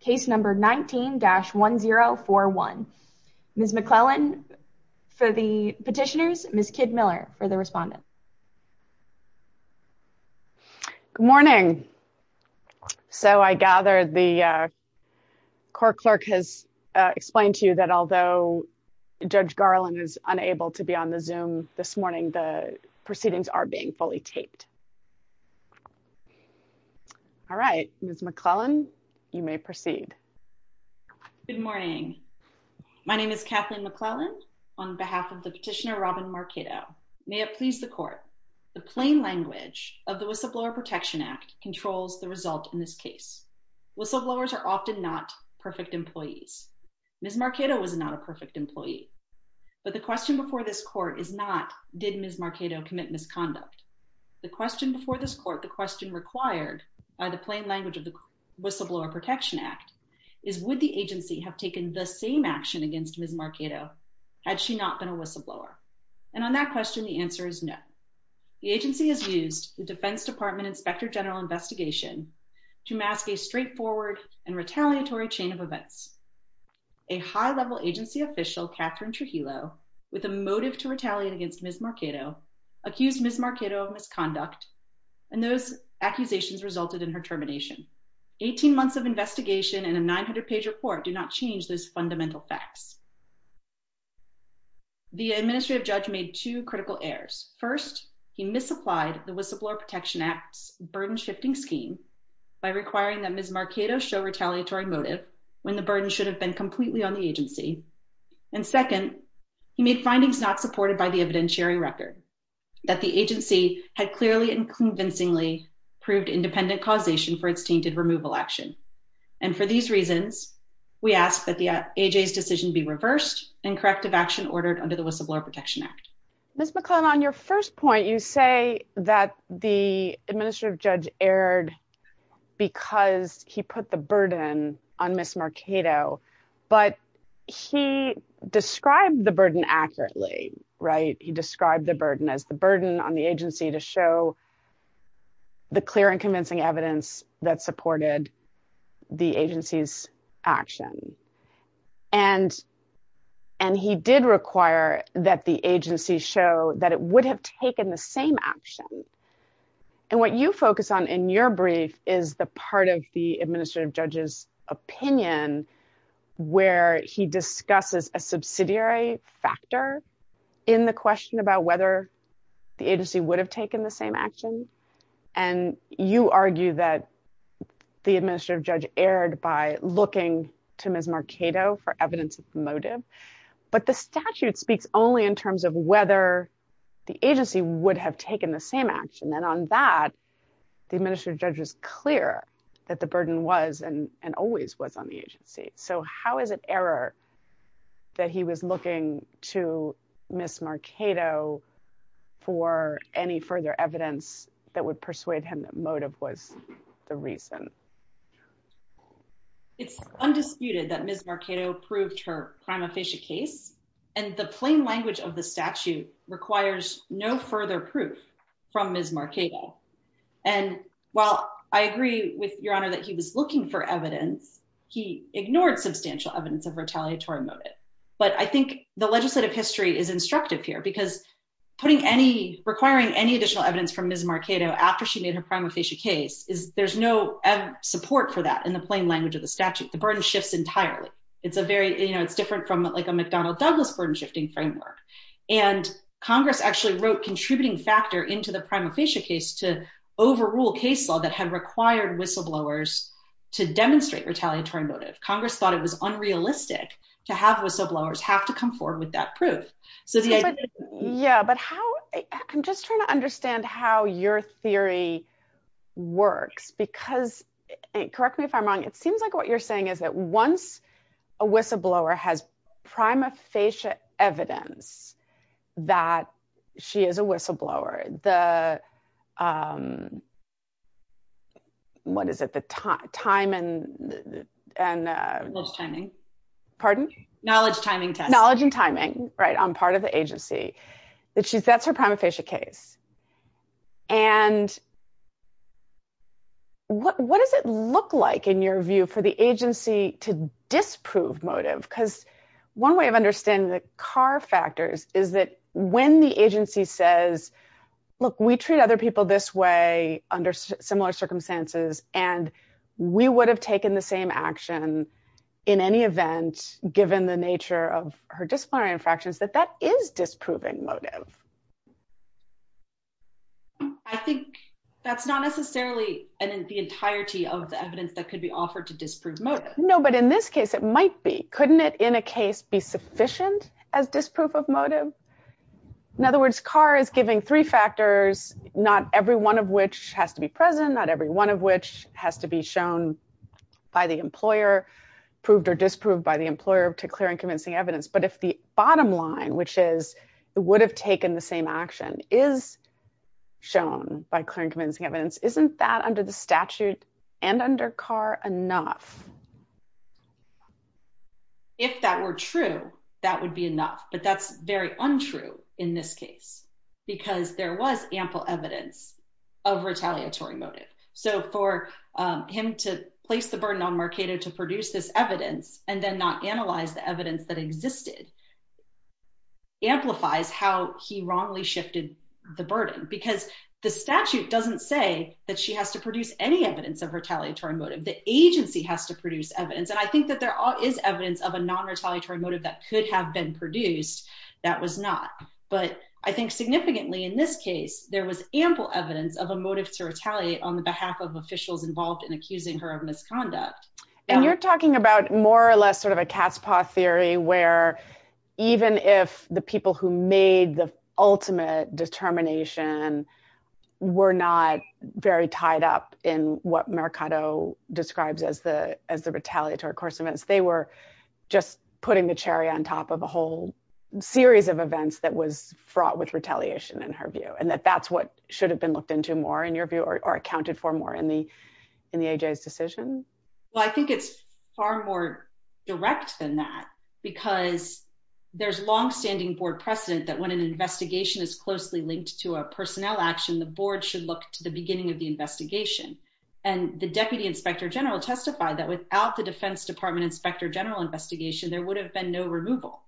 Case number 19-1041. Ms. McClellan for the petitioners, Ms. Kidd-Miller for the respondent. Good morning. So I gather the court clerk has explained to you that although Judge Garland is unable to be on the Zoom this morning, the proceedings are being fully taped. All right, Ms. McClellan, you may proceed. Good morning. My name is Kathleen McClellan on behalf of the petitioner Robin Marcato. May it please the court, the plain language of the Whistleblower Protection Act controls the result in this case. Whistleblowers are often not perfect employees. Ms. Marcato was not a perfect employee. But the question before this court is did Ms. Marcato commit misconduct? The question before this court, the question required by the plain language of the Whistleblower Protection Act is would the agency have taken the same action against Ms. Marcato had she not been a whistleblower? And on that question, the answer is no. The agency has used the Defense Department Inspector General Investigation to mask a straightforward and retaliatory chain of events. A high-level agency official, Catherine Trujillo, with a motive to retaliate against Ms. Marcato, accused Ms. Marcato of misconduct. And those accusations resulted in her termination. 18 months of investigation and a 900-page report do not change those fundamental facts. The administrative judge made two critical errors. First, he misapplied the Whistleblower Protection Act's burden-shifting scheme by requiring that Ms. Marcato show retaliatory motive when the burden should have been completely on the agency. And second, he made findings not supported by the evidentiary record, that the agency had clearly and convincingly proved independent causation for its tainted removal action. And for these reasons, we ask that the AJ's decision be reversed and corrective action ordered under the Whistleblower Protection Act. Ms. McClellan, on your first point, you say that the administrative judge erred because he put the burden on Ms. Marcato, but he described the burden accurately, right? He described the burden as the burden on the agency to show the clear and convincing evidence that supported the agency's action. And he did require that the And what you focus on in your brief is the part of the administrative judge's opinion where he discusses a subsidiary factor in the question about whether the agency would have taken the same action. And you argue that the administrative judge erred by looking to Ms. Marcato for evidence of the motive. But the statute speaks only in terms of whether the agency would have taken the same action. And on that, the administrative judge was clear that the burden was and always was on the agency. So how is it error that he was looking to Ms. Marcato for any further evidence that would persuade him that motive was the reason? It's undisputed that Ms. Marcato proved her prima facie case. And the plain language of the statute requires no further proof from Ms. Marcato. And while I agree with your honor that he was looking for evidence, he ignored substantial evidence of retaliatory motive. But I think the legislative history is instructive here because putting any requiring any additional evidence from Ms. Marcato after she made her prima facie case is there's no support for that in the plain language of the statute. The burden shifts entirely. It's a very you know, it's different from like a McDonnell Douglas burden shifting framework. And Congress actually wrote contributing factor into the prima facie case to overrule case law that had required whistleblowers to demonstrate retaliatory motive. Congress thought it was unrealistic to have whistleblowers have to come forward with that proof. So yeah. But how I'm just trying to understand how your theory works, because correct me if I'm wrong, it seems like what you're saying is that once a whistleblower has prima facie evidence that she is a whistleblower, the what is it the time and and timing, pardon, knowledge, timing, knowledge and timing, right on part of the agency that she's that's her prima facie case. And what does it look like, in your view, for the agency to disprove motive? Because one way of understanding the car factors is that when the agency says, look, we treat other people this way under similar circumstances, and we would have taken the same action in any event, given the nature of her disciplinary infractions, that that is disproving motive. I think that's not necessarily the entirety of the evidence that could be offered to disprove motive. No, but in this case, it might be couldn't it in a case be sufficient as disproof of motive. In other words, car is giving three factors, not every one of which has to be present, not every one of which has to be shown by the employer, proved or disproved by the employer to clear and convincing evidence. But if the bottom line, which is it would have taken the same action is shown by clearing convincing evidence, isn't that under the statute and under car enough? If that were true, that would be enough. But that's very untrue in this case, because there was ample evidence of retaliatory motive. So for him to place the burden on Mercado to produce this evidence, and then not analyze the evidence that existed, amplifies how he wrongly shifted the burden, because the statute doesn't say that she has to produce any evidence of retaliatory motive, the agency has to produce evidence. And I think that there is evidence of a non retaliatory motive that could have been produced. That was not. But I think significantly, in this case, there was ample evidence of a motive to retaliate on the behalf of officials involved in accusing her of misconduct. And you're talking about more or less a cat's paw theory where even if the people who made the ultimate determination were not very tied up in what Mercado describes as the as the retaliatory course of events, they were just putting the cherry on top of a whole series of events that was fraught with retaliation, in her view, and that that's what should have been looked into more, in your view, or accounted for more in the in the AJ's decision? Well, I think it's far more direct than that. Because there's long standing board precedent that when an investigation is closely linked to a personnel action, the board should look to the beginning of the investigation. And the Deputy Inspector General testified that without the Defense Department Inspector General investigation, there would have been no removal.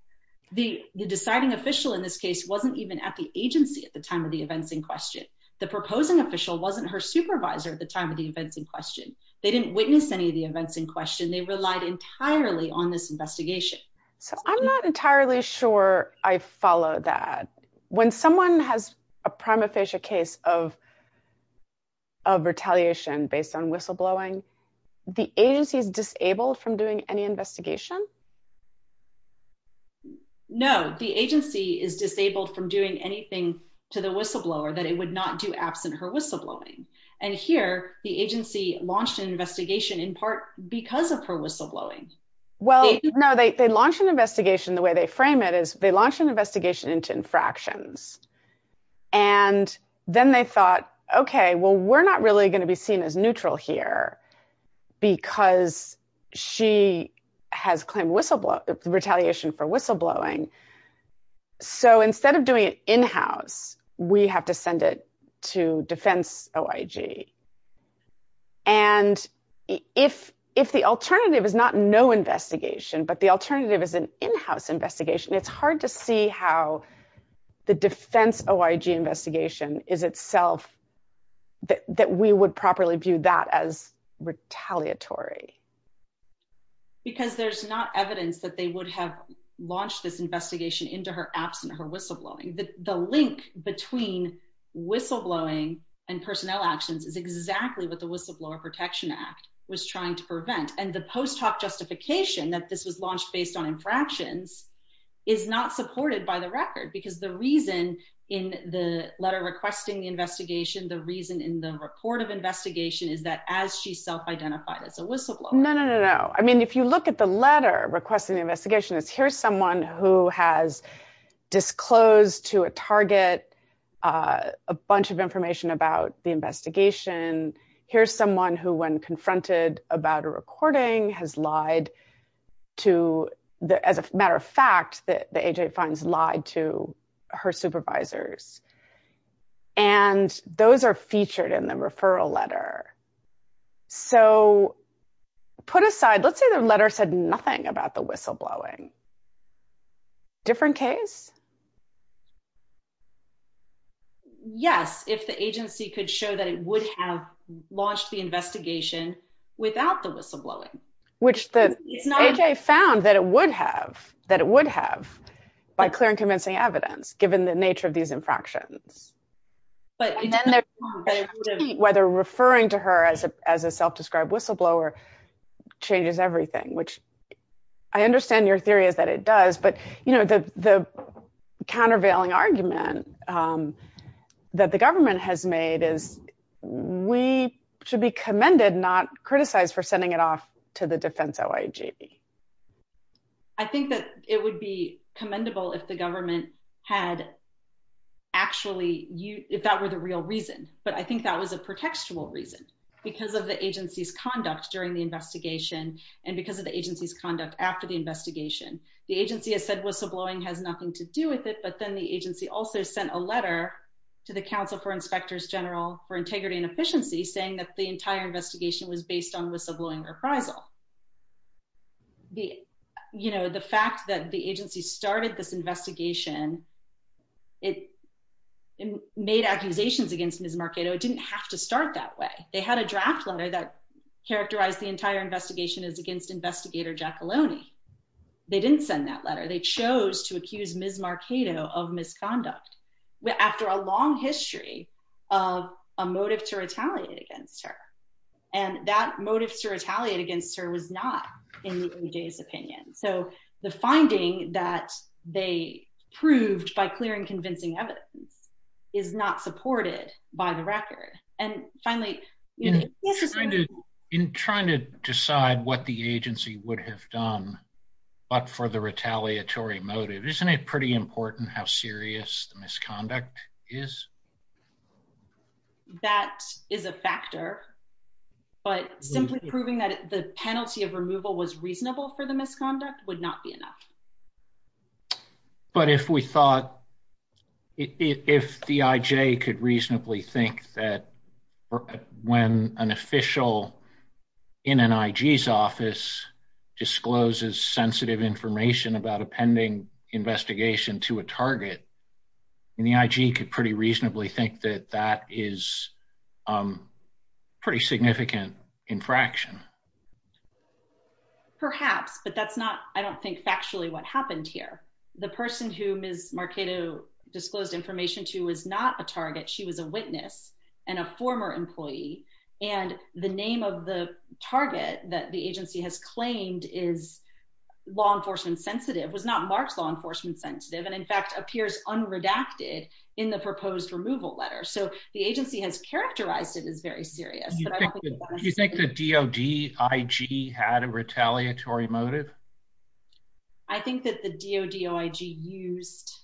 The deciding official in this case wasn't even at the agency at the time of the events in question. The proposing official wasn't her supervisor at the time of the events in question. They didn't witness any of the events in question. They relied entirely on this investigation. So I'm not entirely sure I follow that. When someone has a prima facie case of of retaliation based on whistleblowing, the agency is disabled from doing any investigation? No, the agency is disabled from doing anything to the whistleblower that it would not do absent her whistleblowing. And here, the agency launched an investigation in part because of her whistleblowing. Well, no, they launched an investigation, the way they frame it is they launched an investigation into infractions. And then they thought, okay, well, we're not really going to be seen as neutral here. Because she has claimed whistleblower retaliation for whistleblowing. So instead of doing it in house, we have to send it to Defense OIG. And if if the alternative is not no investigation, but the alternative is an in house investigation, it's hard to see how the Defense OIG investigation is itself that we would properly view that as retaliatory. Because there's not evidence that they would have launched this investigation into her absent her whistleblowing, the link between whistleblowing and personnel actions is exactly what the whistleblower Protection Act was trying to prevent. And the is not supported by the record. Because the reason in the letter requesting the investigation, the reason in the report of investigation is that as she self identified as a whistleblower. No, no, no, no. I mean, if you look at the letter requesting the investigation is here's someone who has disclosed to a target a bunch of information about the investigation. Here's someone who when finds lied to her supervisors. And those are featured in the referral letter. So put aside, let's say the letter said nothing about the whistleblowing. Different case. Yes, if the agency could show that it would have launched the investigation without the by clear and convincing evidence, given the nature of these infractions, whether referring to her as a as a self described whistleblower changes everything, which I understand your theory is that it does. But you know, the the countervailing argument that the government has made is, we should be commended not criticized for sending it off to the defense. I think that it would be commendable if the government had actually you if that were the real reason, but I think that was a pretextual reason because of the agency's conduct during the investigation. And because of the agency's conduct after the investigation, the agency has said whistleblowing has nothing to do with it. But then the agency also sent a letter to the Council for Inspectors General for Integrity and Responsibility to the Council. The, you know, the fact that the agency started this investigation, it made accusations against Ms. Marchetto, it didn't have to start that way. They had a draft letter that characterized the entire investigation is against investigator Giacalone. They didn't send that letter, they chose to accuse Ms. Marchetto of misconduct, after a long history of a motive to retaliate against her. And that motive to retaliate against her was not in the agency's opinion. So the finding that they proved by clearing convincing evidence is not supported by the record. And finally, in trying to decide what the agency would have done, but for the retaliatory motive, isn't it pretty important how serious the misconduct is? That is a factor. But simply proving that the penalty of removal was reasonable for the misconduct would not be enough. But if we thought, if the IJ could reasonably think that when an official in an IJ's office discloses sensitive information about a pending investigation to a target, and the IJ could pretty reasonably think that that is pretty significant infraction. Perhaps, but that's not, I don't think factually what happened here. The person who Ms. Marchetto disclosed information to was not a target, she was a witness, and a former employee. And the name of the target that the agency has claimed is law enforcement sensitive was not marks law enforcement sensitive, and in fact, appears unredacted in the proposed removal letter. So the agency has characterized it as very serious. Do you think the DOD IG had a retaliatory motive? I think that the DOD IG used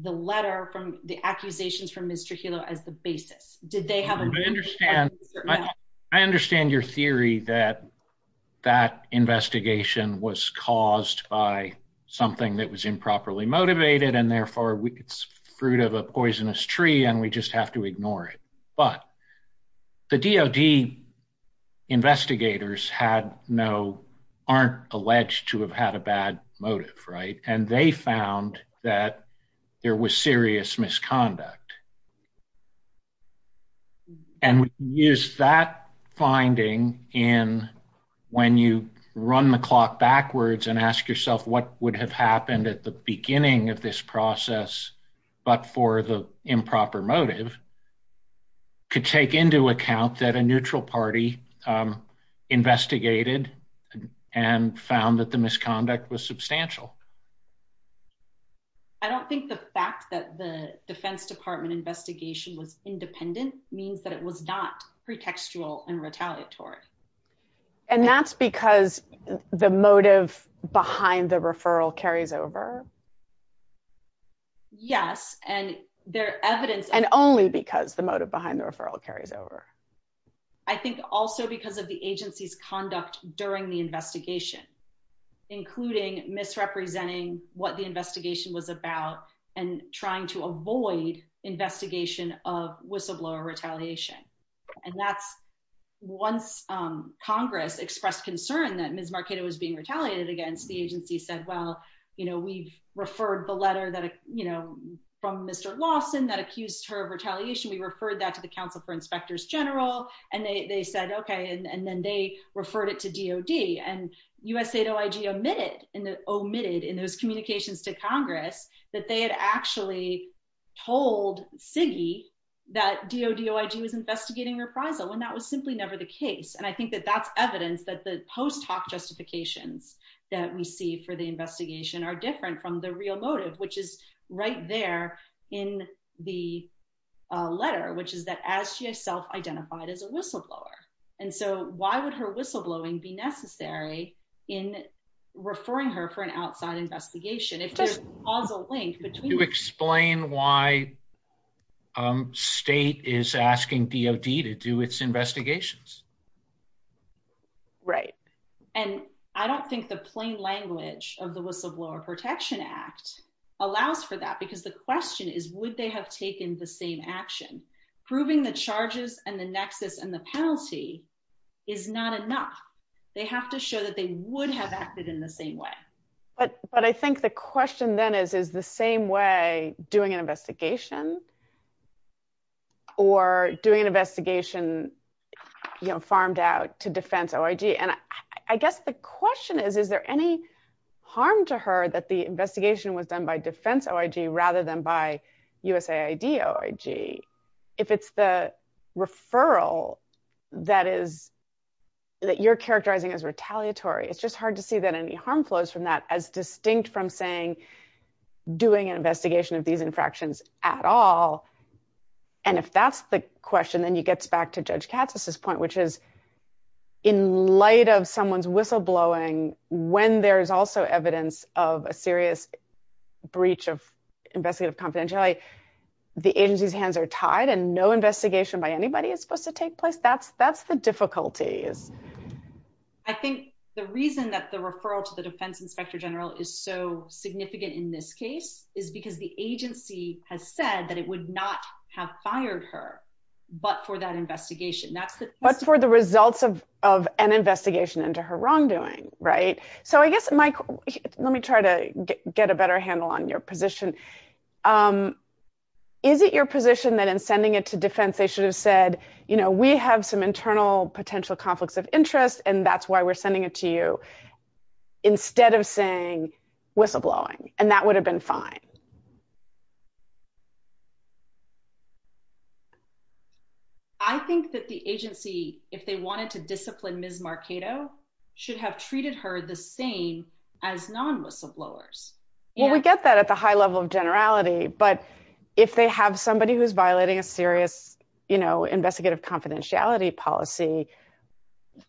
the letter from the accusations from Mr. Hilo as the basis. Did they have a motive? I understand your theory that that investigation was caused by something that was improperly motivated, and therefore, it's fruit of a poisonous tree, and we just have to ignore it. But the DOD investigators had no, aren't alleged to have had a bad motive, right? And they found that there was serious misconduct. And we use that finding in when you run the clock backwards and ask yourself what would have happened at the beginning of this process, but for the improper motive, could take into account that a neutral party investigated and found that the misconduct was substantial. I don't think the fact that the Defense Department investigation was independent means that it was not pretextual and retaliatory. And that's because the motive behind the referral carries over? Yes, and their evidence- And only because the motive behind the referral carries over. I think also because of the agency's conduct during the investigation, including misrepresenting what the investigation was about, and trying to avoid investigation of whistleblower retaliation. And that's once Congress expressed concern that Ms. Marchetta was being retaliated against, the agency said, well, you know, we've referred the letter that, you know, from Mr. Lawson that accused her of retaliation, we referred that to the Council for Inspectors General, and they said, okay, and then they referred it to DOD. And USAID-OIG omitted in those communications to Congress that they had actually told CIGI that DOD-OIG was investigating reprisal, when that was simply never the case. And I think that that's evidence that the post hoc justifications that we see for the investigation are different from the real motive, which is right there in the letter, which is that as she herself identified as a whistleblower. And so why would her whistleblowing be necessary in referring her for an outside investigation? If there's a causal link between... To explain why state is asking DOD to do its investigations. Right. And I don't think the plain language of the Whistleblower Protection Act allows for that, because the question is, would they have taken the same action? Proving the charges and the nexus and the penalty is not enough. They have to show that they would have acted in the same way. But I think the question then is, is the same way doing an investigation? Or doing an investigation farmed out to Defense-OIG? And I guess the question is, is there any harm to her that the investigation was done by Defense-OIG rather than by USAID-OIG? If it's the referral that you're characterizing as retaliatory, it's just hard to see that any harm flows from that as distinct from saying, doing an investigation of these infractions at all. And if that's the question, then you get back to Judge Katz's point, which is in light of someone's whistleblowing, when there is also evidence of a serious breach of investigative confidentiality, the agency's hands are tied and no investigation by anybody is supposed to take place. That's the difficulty. I think the reason that the referral to the Defense Inspector General is so significant in this case is because the agency has said that it would not have fired her, but for that investigation. But for the results of an investigation into her wrongdoing, right? So I guess, Mike, let me try to get a better handle on your position. Is it your position that in sending it to defense, they should have said, you know, we have some internal potential conflicts of interest, and that's why we're sending it to you instead of saying whistleblowing, and that would have been fine? I think that the agency, if they wanted to discipline Ms. Marchetto, should have treated her the same as non-whistleblowers. Well, we get that at the high level of generality, but if they have somebody who's violating a serious, you know, investigative confidentiality policy,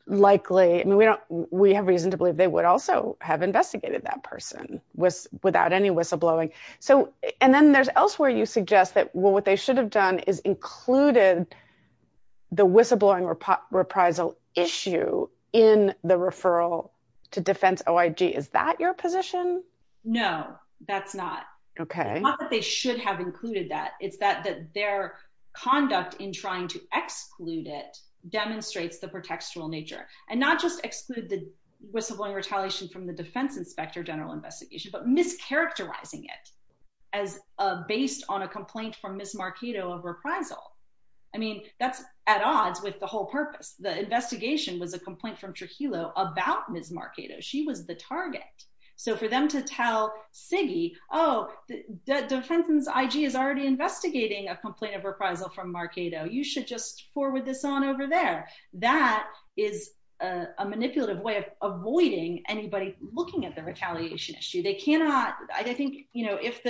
likely, I mean, we have reason to believe they would also have investigated that person without any whistleblowing. And then there's elsewhere you suggest that what they should have done is included the whistleblowing reprisal issue in the referral to defense OIG. Is that your position? No, that's not. Not that they should have included that. It's that their conduct in trying to exclude it demonstrates the pretextual nature. And not just exclude the whistleblowing retaliation from the defense inspector general investigation, but mischaracterizing it based on a complaint from Ms. Marchetto of reprisal. I mean, that's at odds with the whole purpose. The investigation was a complaint from Trujillo about Ms. Marchetto. She was the target. So for them to tell CIGI, oh, the defense IG is already investigating a complaint of reprisal from Marchetto. You should just forward this on over there. That is a manipulative way of avoiding anybody looking at the retaliation issue. I think if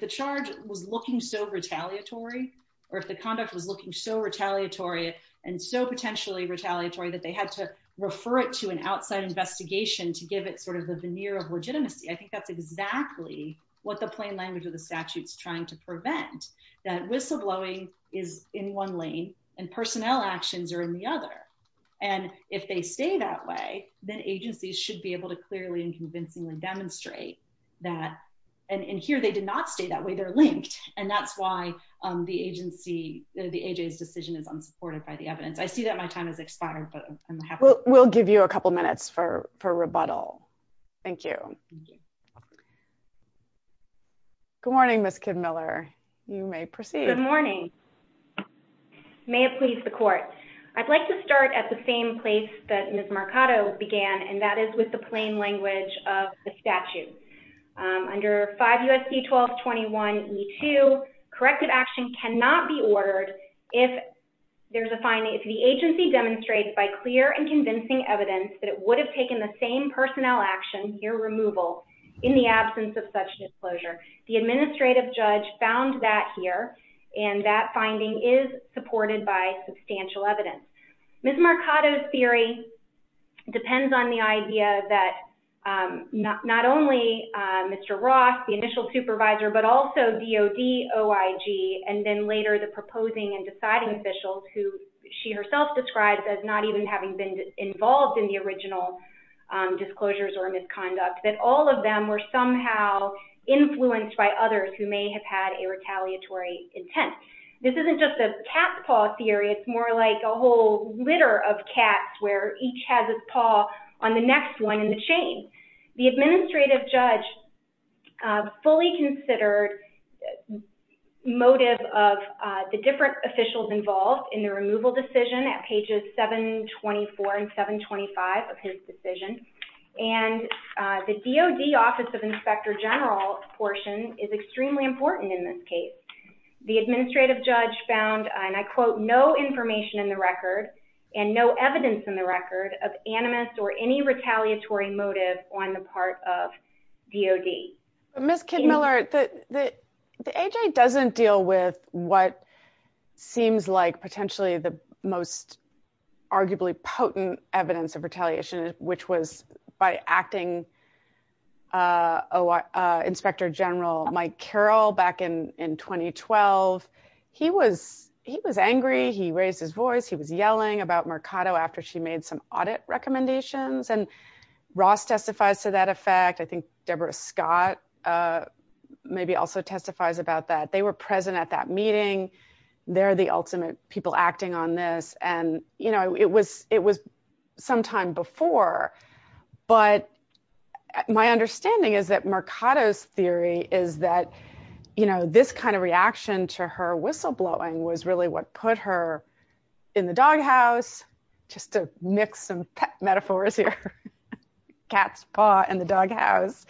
the charge was looking so retaliatory, or if the conduct was looking so retaliatory and so potentially retaliatory that they had to refer it to an outside investigation to give it sort of the veneer of legitimacy, I think that's exactly what the plain language of the statute is trying to prevent. That whistleblowing is in one actions or in the other. And if they stay that way, then agencies should be able to clearly and convincingly demonstrate that. And here they did not stay that way. They're linked. And that's why the agency, the AJ's decision is unsupported by the evidence. I see that my time has expired. We'll give you a couple minutes for rebuttal. Thank you. Good morning, Ms. Kidd-Miller. You may proceed. Good morning. May it please the court. I'd like to start at the same place that Ms. Marchetto began, and that is with the plain language of the statute. Under 5 U.S.C. 1221E2, corrective action cannot be ordered if there's a finding, if the agency demonstrates by clear and convincing evidence that it would have taken the same in the absence of such disclosure. The administrative judge found that here, and that finding is supported by substantial evidence. Ms. Marchetto's theory depends on the idea that not only Mr. Ross, the initial supervisor, but also DOD, OIG, and then later the proposing and deciding officials who she herself describes as not even having been involved in the original disclosures or misconduct, that all of them were somehow influenced by others who may have had a retaliatory intent. This isn't just a cat's paw theory. It's more like a whole litter of cats where each has its paw on the next one in the chain. The administrative judge fully considered motive of the different officials involved in the removal decision at pages 724 and 725 of his decision, and the DOD Office of Inspector General portion is extremely important in this case. The administrative judge found, and I quote, no information in the record and no evidence in the record of animus or any retaliatory motive on the part of DOD. Ms. Kidmiller, the A.J. doesn't deal with what seems like potentially the most potent evidence of retaliation, which was by acting Inspector General Mike Carroll back in 2012. He was angry. He raised his voice. He was yelling about Mercado after she made some audit recommendations, and Ross testifies to that effect. I think Deborah Scott maybe also testifies about that. They were present at that meeting. They're the ultimate people acting on this. It was sometime before, but my understanding is that Mercado's theory is that this kind of reaction to her whistleblowing was really what put her in the doghouse, just to mix some metaphors here. Cat's paw in the doghouse.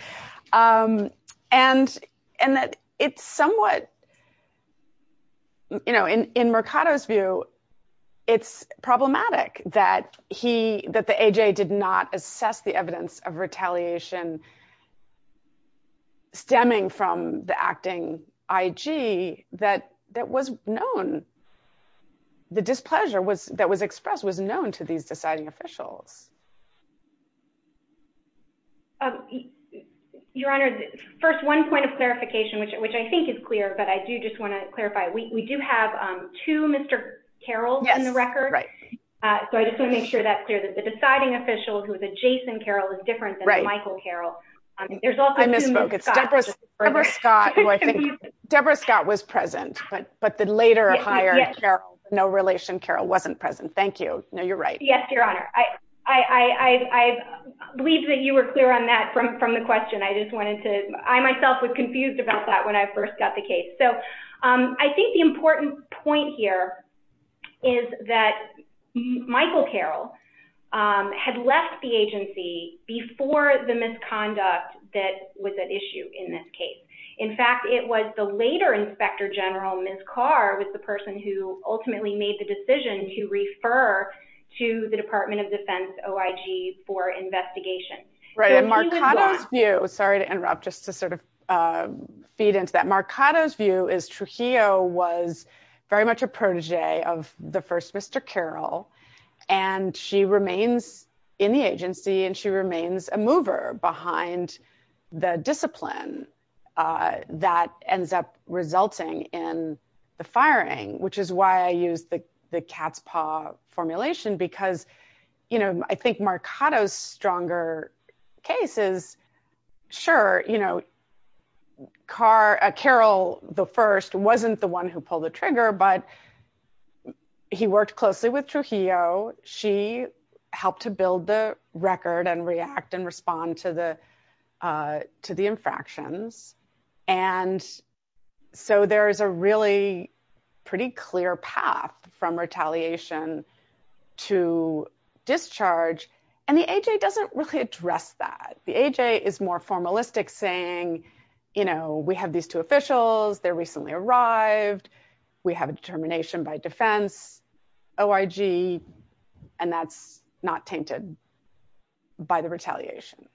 It's somewhat in Mercado's view, it's problematic that the A.J. did not assess the evidence of retaliation stemming from the acting I.G. that was known. The displeasure that was expressed was known to these deciding officials. Your Honor, first, one point of clarification, which I think is clear, but I do just want to clarify. We do have two Mr. Carrolls in the record, so I just want to make sure that's clear that the deciding official who is a Jason Carroll is different than Michael Carroll. I misspoke. It's Deborah Scott. Deborah Scott was present, but the later or higher Carroll, no relation Carroll, wasn't present. Thank you. No, you're right. Yes, Your Honor. I believe that you were clear on that from the question. I just wanted to... I myself was confused about that when I first got the case. I think the important point here is that Michael Carroll had left the agency before the misconduct that was at issue in this case. In fact, it was the later Inspector General, Ms. Carr, was the person who ultimately made the decision to refer to the Department of Defense OIG for investigation. Right. In Mercado's view, sorry to interrupt, just to sort of feed into that, Mercado's view is Trujillo was very much a protege of the first Mr. Carroll, and she remains in the agency, and she remains a mover behind the discipline that ends up resulting in the firing, which is why I use the cat's paw formulation, because I think Mercado's stronger case is, sure, Carroll the first wasn't the one who pulled the trigger, but he worked closely with Trujillo. She helped to build the record and react and respond to the infractions. And so there is a really pretty clear path from retaliation to discharge, and the A.J. doesn't really address that. The A.J. is more formalistic, saying, you know, we have these two officials, they recently arrived, we have a determination by defense, OIG, and that's not tainted by the retaliation.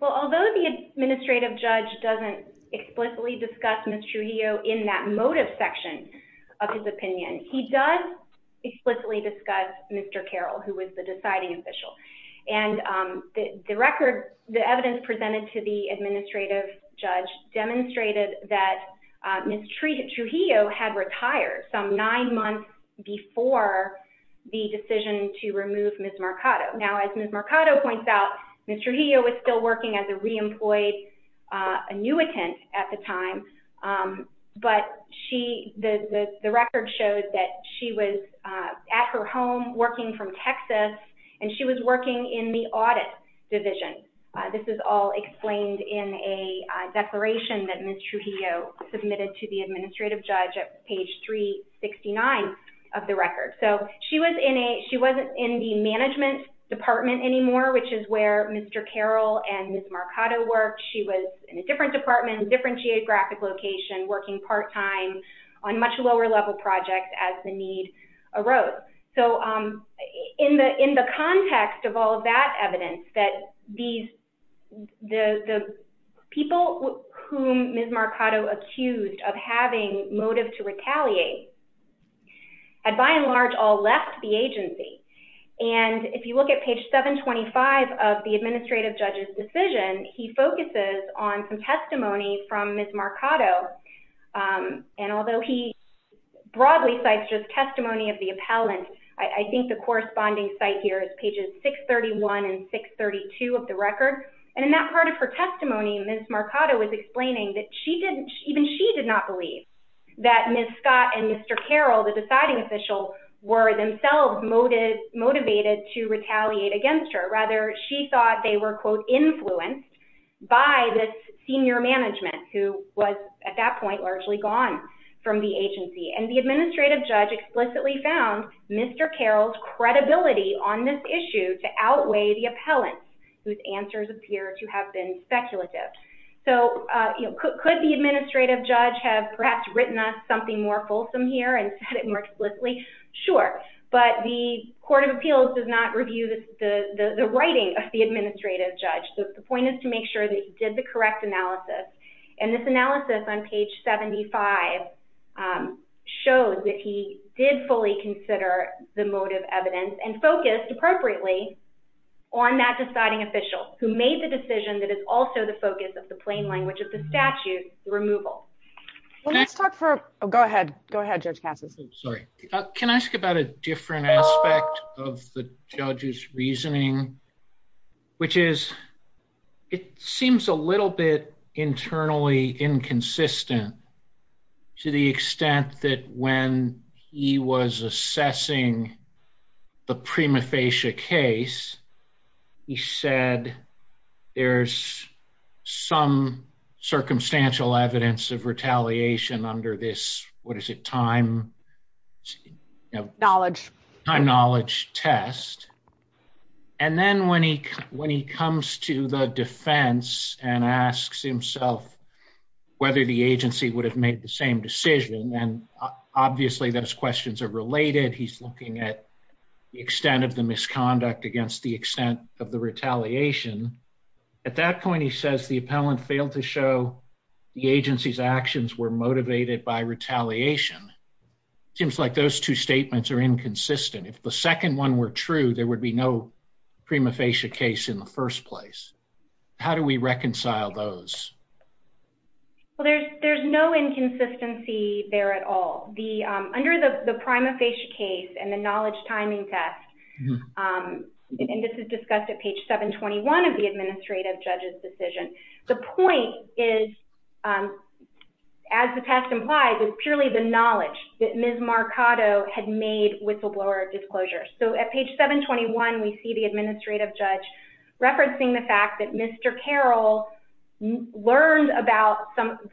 Well, although the he does explicitly discuss Mr. Carroll, who was the deciding official, and the record, the evidence presented to the administrative judge demonstrated that Ms. Trujillo had retired some nine months before the decision to remove Ms. Mercado. Now, as Ms. Mercado points out, Ms. Trujillo was still showed that she was at her home working from Texas, and she was working in the audit division. This is all explained in a declaration that Ms. Trujillo submitted to the administrative judge at page 369 of the record. So she was in a, she wasn't in the management department anymore, which is where Mr. Carroll and Ms. Mercado worked. She was in a different department, different geographic location, working part-time on much lower level projects as the need arose. So in the context of all of that evidence that these, the people whom Ms. Mercado accused of having motive to retaliate had by and large all left the agency. And if you look at page 725 of the administrative judge's decision, he focuses on some testimony from Ms. Mercado. And although he broadly cites just testimony of the appellant, I think the corresponding site here is pages 631 and 632 of the record. And in that part of her testimony, Ms. Mercado was explaining that she didn't, even she did not believe that Ms. Scott and Mr. Carroll, the retaliate against her. Rather, she thought they were quote, influenced by this senior management who was at that point largely gone from the agency. And the administrative judge explicitly found Mr. Carroll's credibility on this issue to outweigh the appellant, whose answers appear to have been speculative. So could the administrative judge have perhaps written us something more the writing of the administrative judge? The point is to make sure that he did the correct analysis. And this analysis on page 75 shows that he did fully consider the motive evidence and focused appropriately on that deciding official who made the decision that is also the focus of the plain language of the statute, the removal. Well, let's talk for, oh, go ahead. Go ahead, Judge Cassis. Sorry. Can I ask about a different aspect of the judge's reasoning, which is it seems a little bit internally inconsistent to the extent that when he was assessing the prima facie case, he said there's some circumstantial evidence of retaliation under this, what is it, time knowledge test. And then when he comes to the defense and asks himself whether the agency would have made the same decision, then obviously those questions are related. He's looking at the extent of the misconduct against the extent of the retaliation. At that point, he says the appellant failed to show the agency's actions were motivated by retaliation. It seems like those two statements are inconsistent. If the second one were true, there would be no prima facie case in the first place. How do we reconcile those? Well, there's no inconsistency there at all. Under the prima facie case and the knowledge timing test, and this is discussed at page 721 of the administrative judge's decision, the point is, as the test implies, is purely the knowledge that Ms. Marcato had made whistleblower disclosures. So at page 721, we see the administrative judge referencing the fact that Mr. Carroll learned about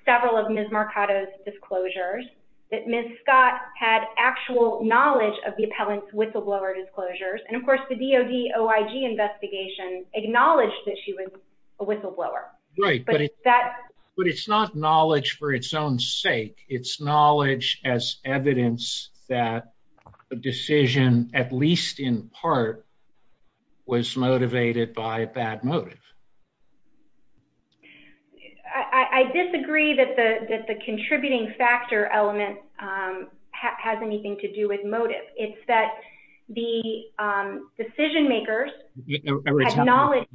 several of Ms. Marcato's disclosures, that Ms. Scott had actual knowledge of the appellant's whistleblower disclosures, and of course, the DOD OIG investigation acknowledged that she was a whistleblower. Right, but it's not knowledge for its own sake. It's knowledge as evidence that a decision, at least in part, was motivated by a bad motive. I disagree that the contributing factor element has anything to do with motive. It's that the decision makers acknowledged...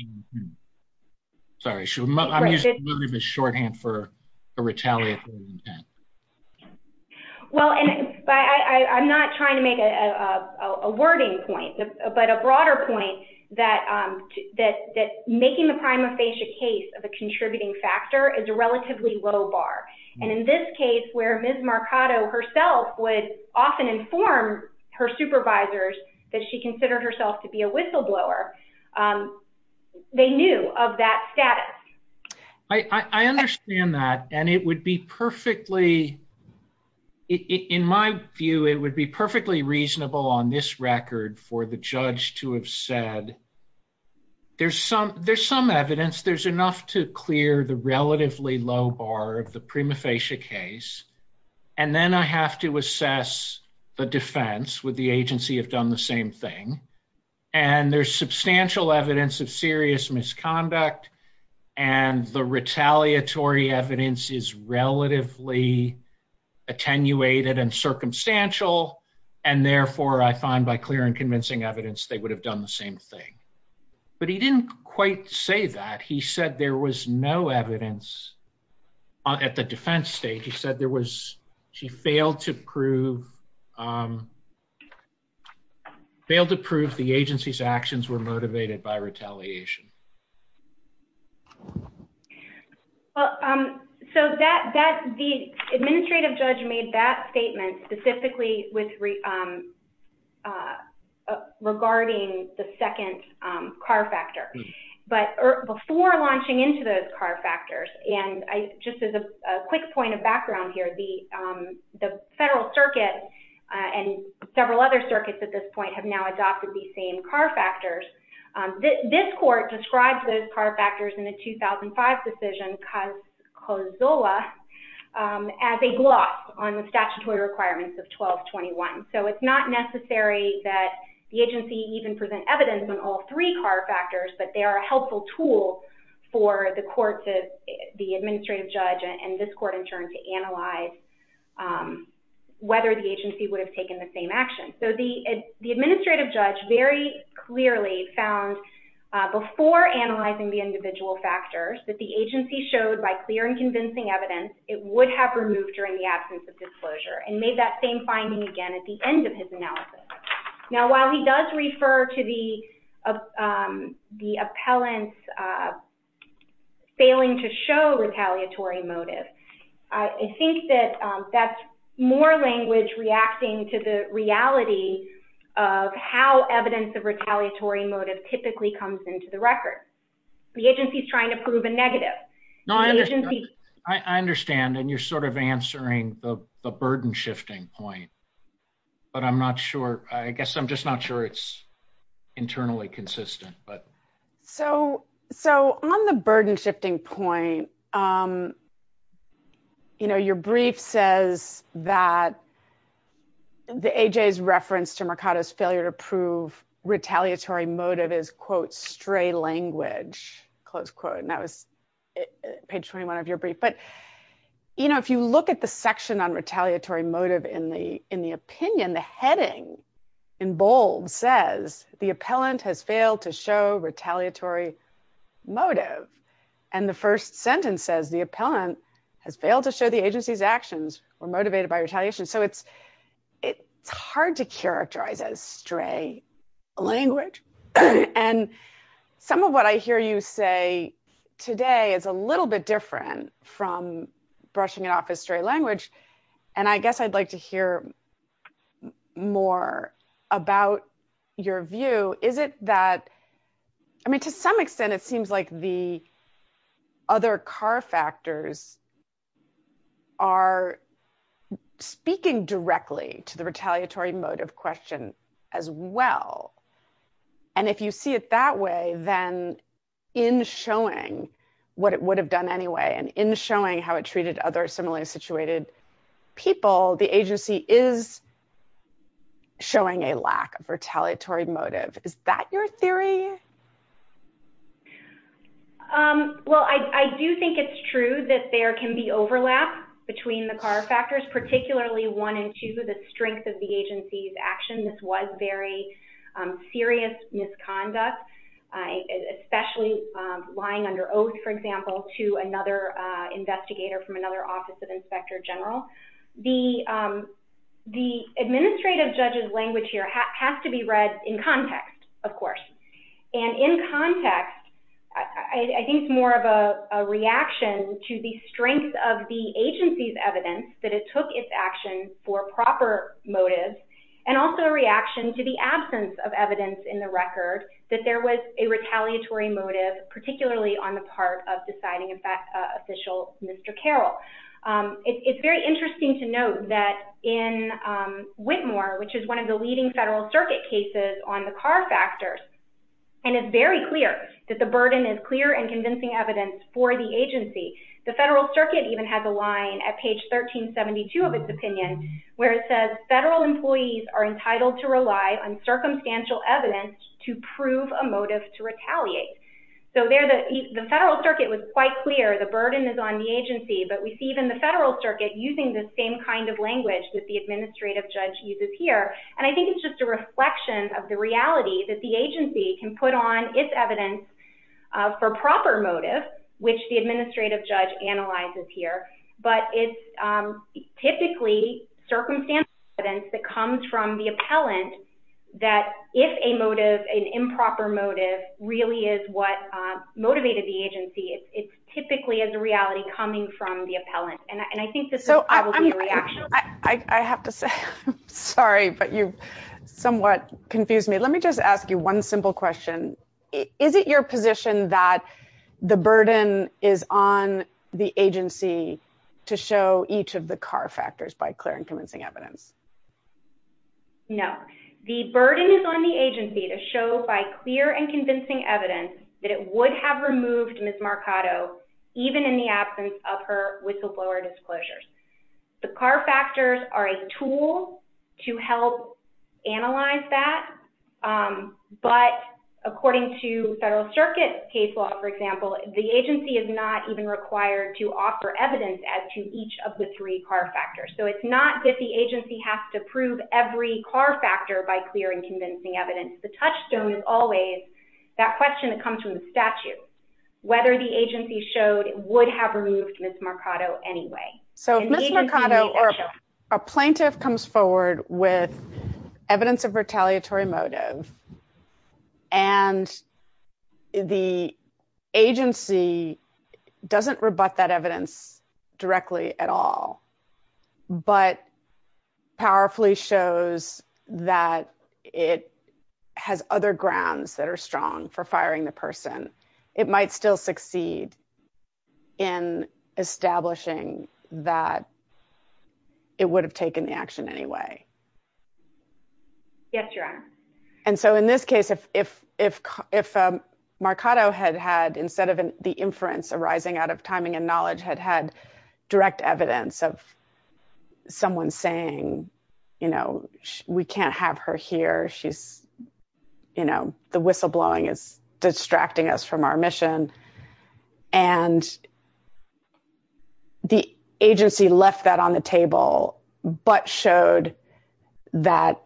Sorry, I'm using motive as shorthand for a retaliatory intent. Well, and I'm not trying to make a wording point, but a broader point that making the prima facie case of a contributing factor is a relatively low bar. And in this case, where Ms. Marcato herself would often inform her supervisors that she considered herself to be a whistleblower, they knew of that status. I understand that, and it would be perfectly, in my view, it would be perfectly reasonable on this record for the judge to have said, there's some evidence, there's enough to clear the relatively low bar of the prima facie case, and then I have to assess the defense. Would the agency have done the same thing? And there's substantial evidence of serious misconduct, and the retaliatory evidence is relatively attenuated and circumstantial, and therefore, I find by clear and convincing evidence, they would have done the same thing. But he didn't quite say that. He said there was no evidence at the defense stage. He said there was, she failed to prove the agency's actions were motivated by retaliation. Well, so the administrative judge made that statement specifically with regarding the second car factor. But before launching into those car factors, and just as a quick point of background here, the federal circuit and several other circuits at this point have now adopted these same car factors. This court describes those car factors in the 2005 decision COSOLA as a gloss on the statutory requirements of 1221. So it's not necessary that the agency even present evidence on all three car factors, but they are a helpful tool for the court to, the administrative judge and this court in turn to analyze whether the agency would have taken the same action. So the administrative judge very clearly found before analyzing the individual factors that the agency showed by clear and convincing evidence, it would have removed during the absence of disclosure and made that same finding again at the end of his analysis. Now, while he does refer to the appellant's failing to show retaliatory motive, I think that that's more language reacting to the reality of how evidence of typically comes into the record. The agency is trying to prove a negative. No, I understand. And you're sort of answering the burden shifting point, but I'm not sure. I guess I'm just not sure it's internally consistent, but. So on the burden shifting point, your brief says that the AJ's reference to Mercado's failure to retaliatory motive is quote, stray language, close quote. And that was page 21 of your brief. But if you look at the section on retaliatory motive in the opinion, the heading in bold says the appellant has failed to show retaliatory motive. And the first sentence says the appellant has failed to show the agency's actions were motivated by retaliation. So it's hard to stray language. And some of what I hear you say today is a little bit different from brushing it off as stray language. And I guess I'd like to hear more about your view. Is it that I mean, to some extent, it seems like the other car factors are speaking directly to the retaliatory motive question as well. And if you see it that way, then in showing what it would have done anyway, and in showing how it treated other similarly situated people, the agency is showing a lack of retaliatory motive. Is that your theory? Well, I do think it's true that there can be overlap between the car factors, particularly one and two, the strength of the agency's action. This was very serious misconduct, especially lying under oath, for example, to another investigator from another office of inspector general. The administrative judge's language here has to be read in context, of course. And in context, I think it's more of a reaction to the strength of the agency's action for proper motives, and also a reaction to the absence of evidence in the record that there was a retaliatory motive, particularly on the part of deciding official Mr. Carroll. It's very interesting to note that in Whitmore, which is one of the leading federal circuit cases on the car factors, and it's very clear that the burden is clear and convincing evidence for the opinion, where it says federal employees are entitled to rely on circumstantial evidence to prove a motive to retaliate. The federal circuit was quite clear the burden is on the agency, but we see even the federal circuit using the same kind of language that the administrative judge uses here. And I think it's just a reflection of the reality that the agency can put on its evidence for proper motive, which the administrative judge analyzes here, but it's circumstantial evidence that comes from the appellant that if a motive, an improper motive, really is what motivated the agency, it's typically as a reality coming from the appellant. And I think this is probably a reaction. I have to say, I'm sorry, but you've somewhat confused me. Let me just ask you one simple question. Is it your position that the burden is on the agency to show each of the car factors by clear and convincing evidence? No, the burden is on the agency to show by clear and convincing evidence that it would have removed Ms. Marcato even in the absence of her whistleblower disclosures. The car factors are a the agency is not even required to offer evidence as to each of the three car factors. So it's not that the agency has to prove every car factor by clear and convincing evidence. The touchstone is always that question that comes from the statute, whether the agency showed it would have removed Ms. Marcato anyway. So if Ms. Marcato or a plaintiff comes forward with evidence of retaliatory motive and the agency doesn't rebut that evidence directly at all, but powerfully shows that it has other grounds that are strong for firing the person, it might still succeed in establishing that it would have taken action anyway. Yes, Your Honor. And so in this case, if Marcato had had, instead of the inference arising out of timing and knowledge, had had direct evidence of someone saying, you know, we can't have her here. She's, you know, the whistleblowing is distracting us from our mission. And the agency left that on the table, but showed that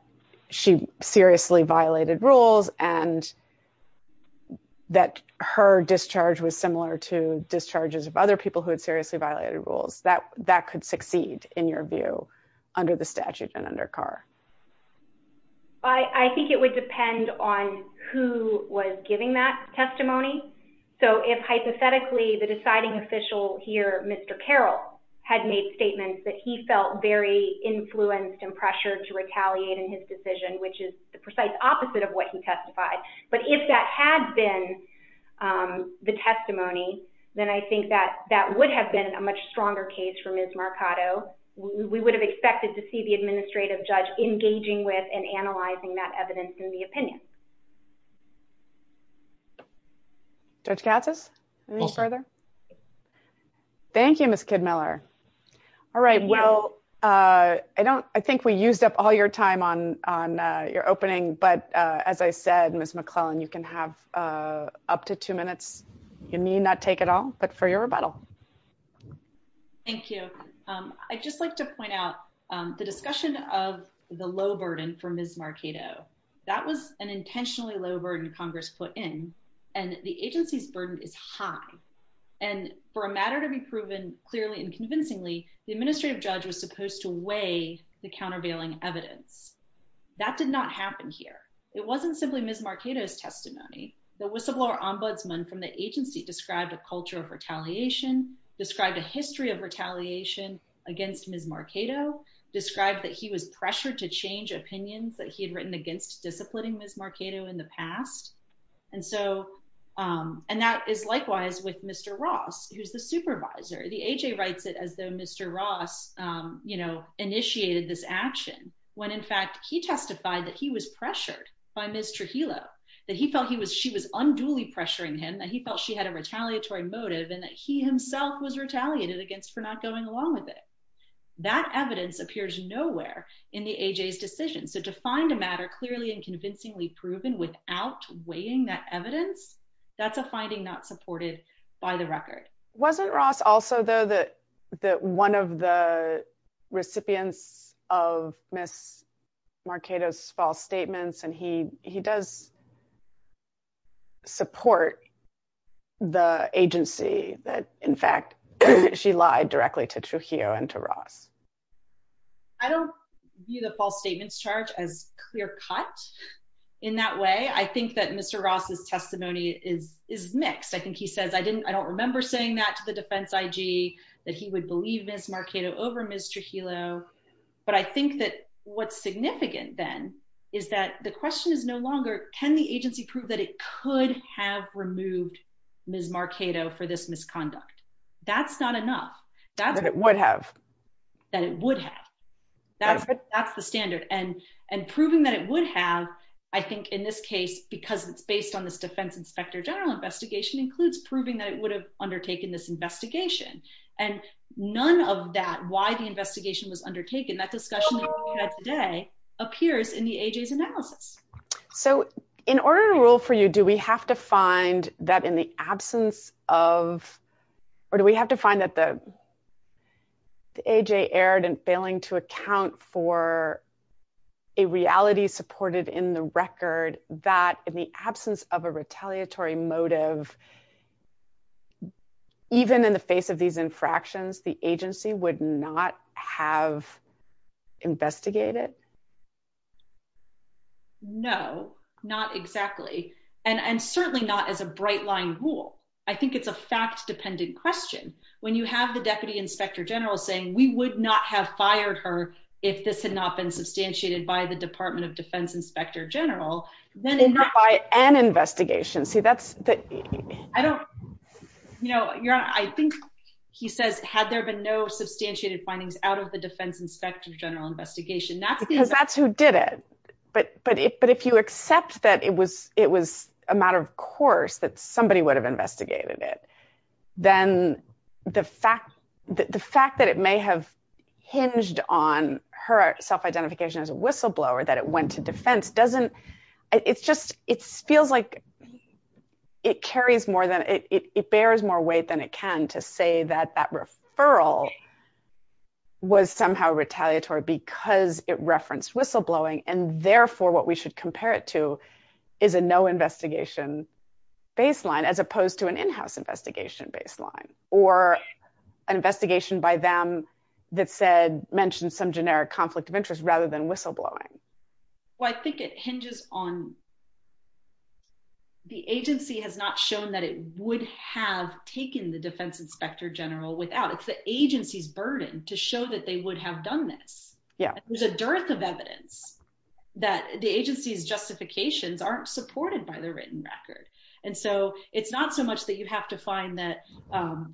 she seriously violated rules and that her discharge was similar to discharges of other people who had seriously violated rules that could succeed, in your view, under the statute and under Carr. I think it would depend on who was giving that testimony. So if hypothetically, the deciding official here, Mr. Carroll, had made statements that he felt very influenced and pressured to retaliate in his decision, which is the precise opposite of what he testified. But if that had been the testimony, then I think that that would have been a much stronger case for Ms. Marcato. We would have expected to see the administrative judge engaging with and analyzing that evidence in the opinion. Judge Gatsas, anything further? Thank you, Ms. Kidmiller. All right. Well, I think we used up all your time on your opening. But as I said, Ms. McClellan, you can have up to two minutes. You may not take it all, but for your rebuttal. Thank you. I'd just like to point out the discussion of the low burden for Ms. Marcato. That was an intentionally low burden Congress put in, and the agency's burden is high. And for a matter to be proven clearly and convincingly, the administrative judge was supposed to weigh the countervailing evidence. That did not happen here. It wasn't simply Ms. Marcato's testimony. The whistleblower ombudsman from the agency described a culture of retaliation, described a history of retaliation against Ms. Marcato, described that he was pressured to change opinions that he had written against disciplining Ms. Marcato in the past. And that is likewise with Mr. Ross, who's the supervisor. The AJ writes it as though Mr. Ross initiated this action when in fact he testified that he was pressured by Ms. Trujillo, that he felt she was unduly pressuring him, that he felt she had a retaliatory motive, and that he himself was retaliated against for not going along with it. That evidence appears nowhere in the AJ's decision. So to find a matter clearly and convincingly proven without weighing that evidence, that's a finding not supported by the record. Wasn't Ross also, though, one of the recipients of Ms. Marcato's false statements? And he does support the agency that in fact she lied directly to Trujillo and to Ross. I don't view the false statements charge as clear-cut in that way. I think that Mr. Ross's testimony is mixed. I think he says, I don't remember saying that to the defense IG, that he would believe Ms. Marcato over Ms. Trujillo. But I think that what's significant then is that the question is no longer, can the agency prove that it could have removed Ms. Marcato for this misconduct? That's not enough. That it would have. That it would have. That's the standard. And proving that it would have, I think in this case, because it's based on this defense inspector general investigation, includes proving that it would have undertaken this investigation. And none of that, why the investigation was undertaken, that discussion that we had today, appears in the AJ's analysis. So in order to rule for you, do we have to find that in the absence of, or do we have to find that the AJ erred in failing to account for a reality supported in the record that in the absence of a retaliatory motive, even in the face of these infractions, the agency would not have investigated? No, not exactly. And certainly not as a bright line rule. I think it's a fact-dependent question. When you have the deputy inspector general saying, we would not have fired her if this had not been substantiated by the Department of Defense inspector general, then- Or by an investigation. See, that's the- I don't, you know, Your Honor, I think he says, had there been no substantiated findings out of the defense inspector general investigation, that's the- Because that's who did it. But if you accept that it was a matter of course that somebody would have investigated it, then the fact that it may have hinged on her self-identification as a whistleblower, that it went to defense, doesn't, it's just, it feels like it carries more than, it bears more weight than it can to say that that referral was somehow retaliatory because it referenced whistleblowing. And therefore what we should compare it to is a no investigation baseline, as opposed to an in-house investigation baseline, or an investigation by them that said, mentioned some generic conflict of interest rather than whistleblowing. Well, I think it hinges on, the agency has not shown that it would have taken the defense inspector general without, it's the agency's burden to show that they would have done this. Yeah. There's a dearth of evidence that the agency's justifications aren't supported by the written record. And so it's not so much that you have to find that,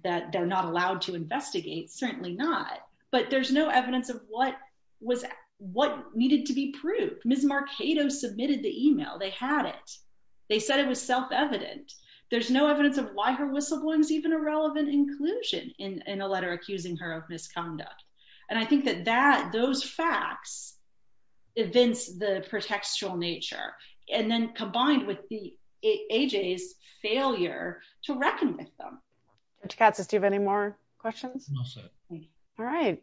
that they're not allowed to investigate, certainly not, but there's no evidence of what was, what needed to be proved. Ms. Marcato submitted the email, they had it. They said it was self-evident. There's no evidence of why her whistleblowing is even a relevant inclusion in a letter accusing her of misconduct. And I think that that, those facts evince the pretextual nature and then combined with the, AJ's failure to reckon with them. Dr. Katz, do you have any more questions? I'm all set. All right.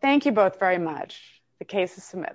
Thank you both very much. The case is submitted. Thank you.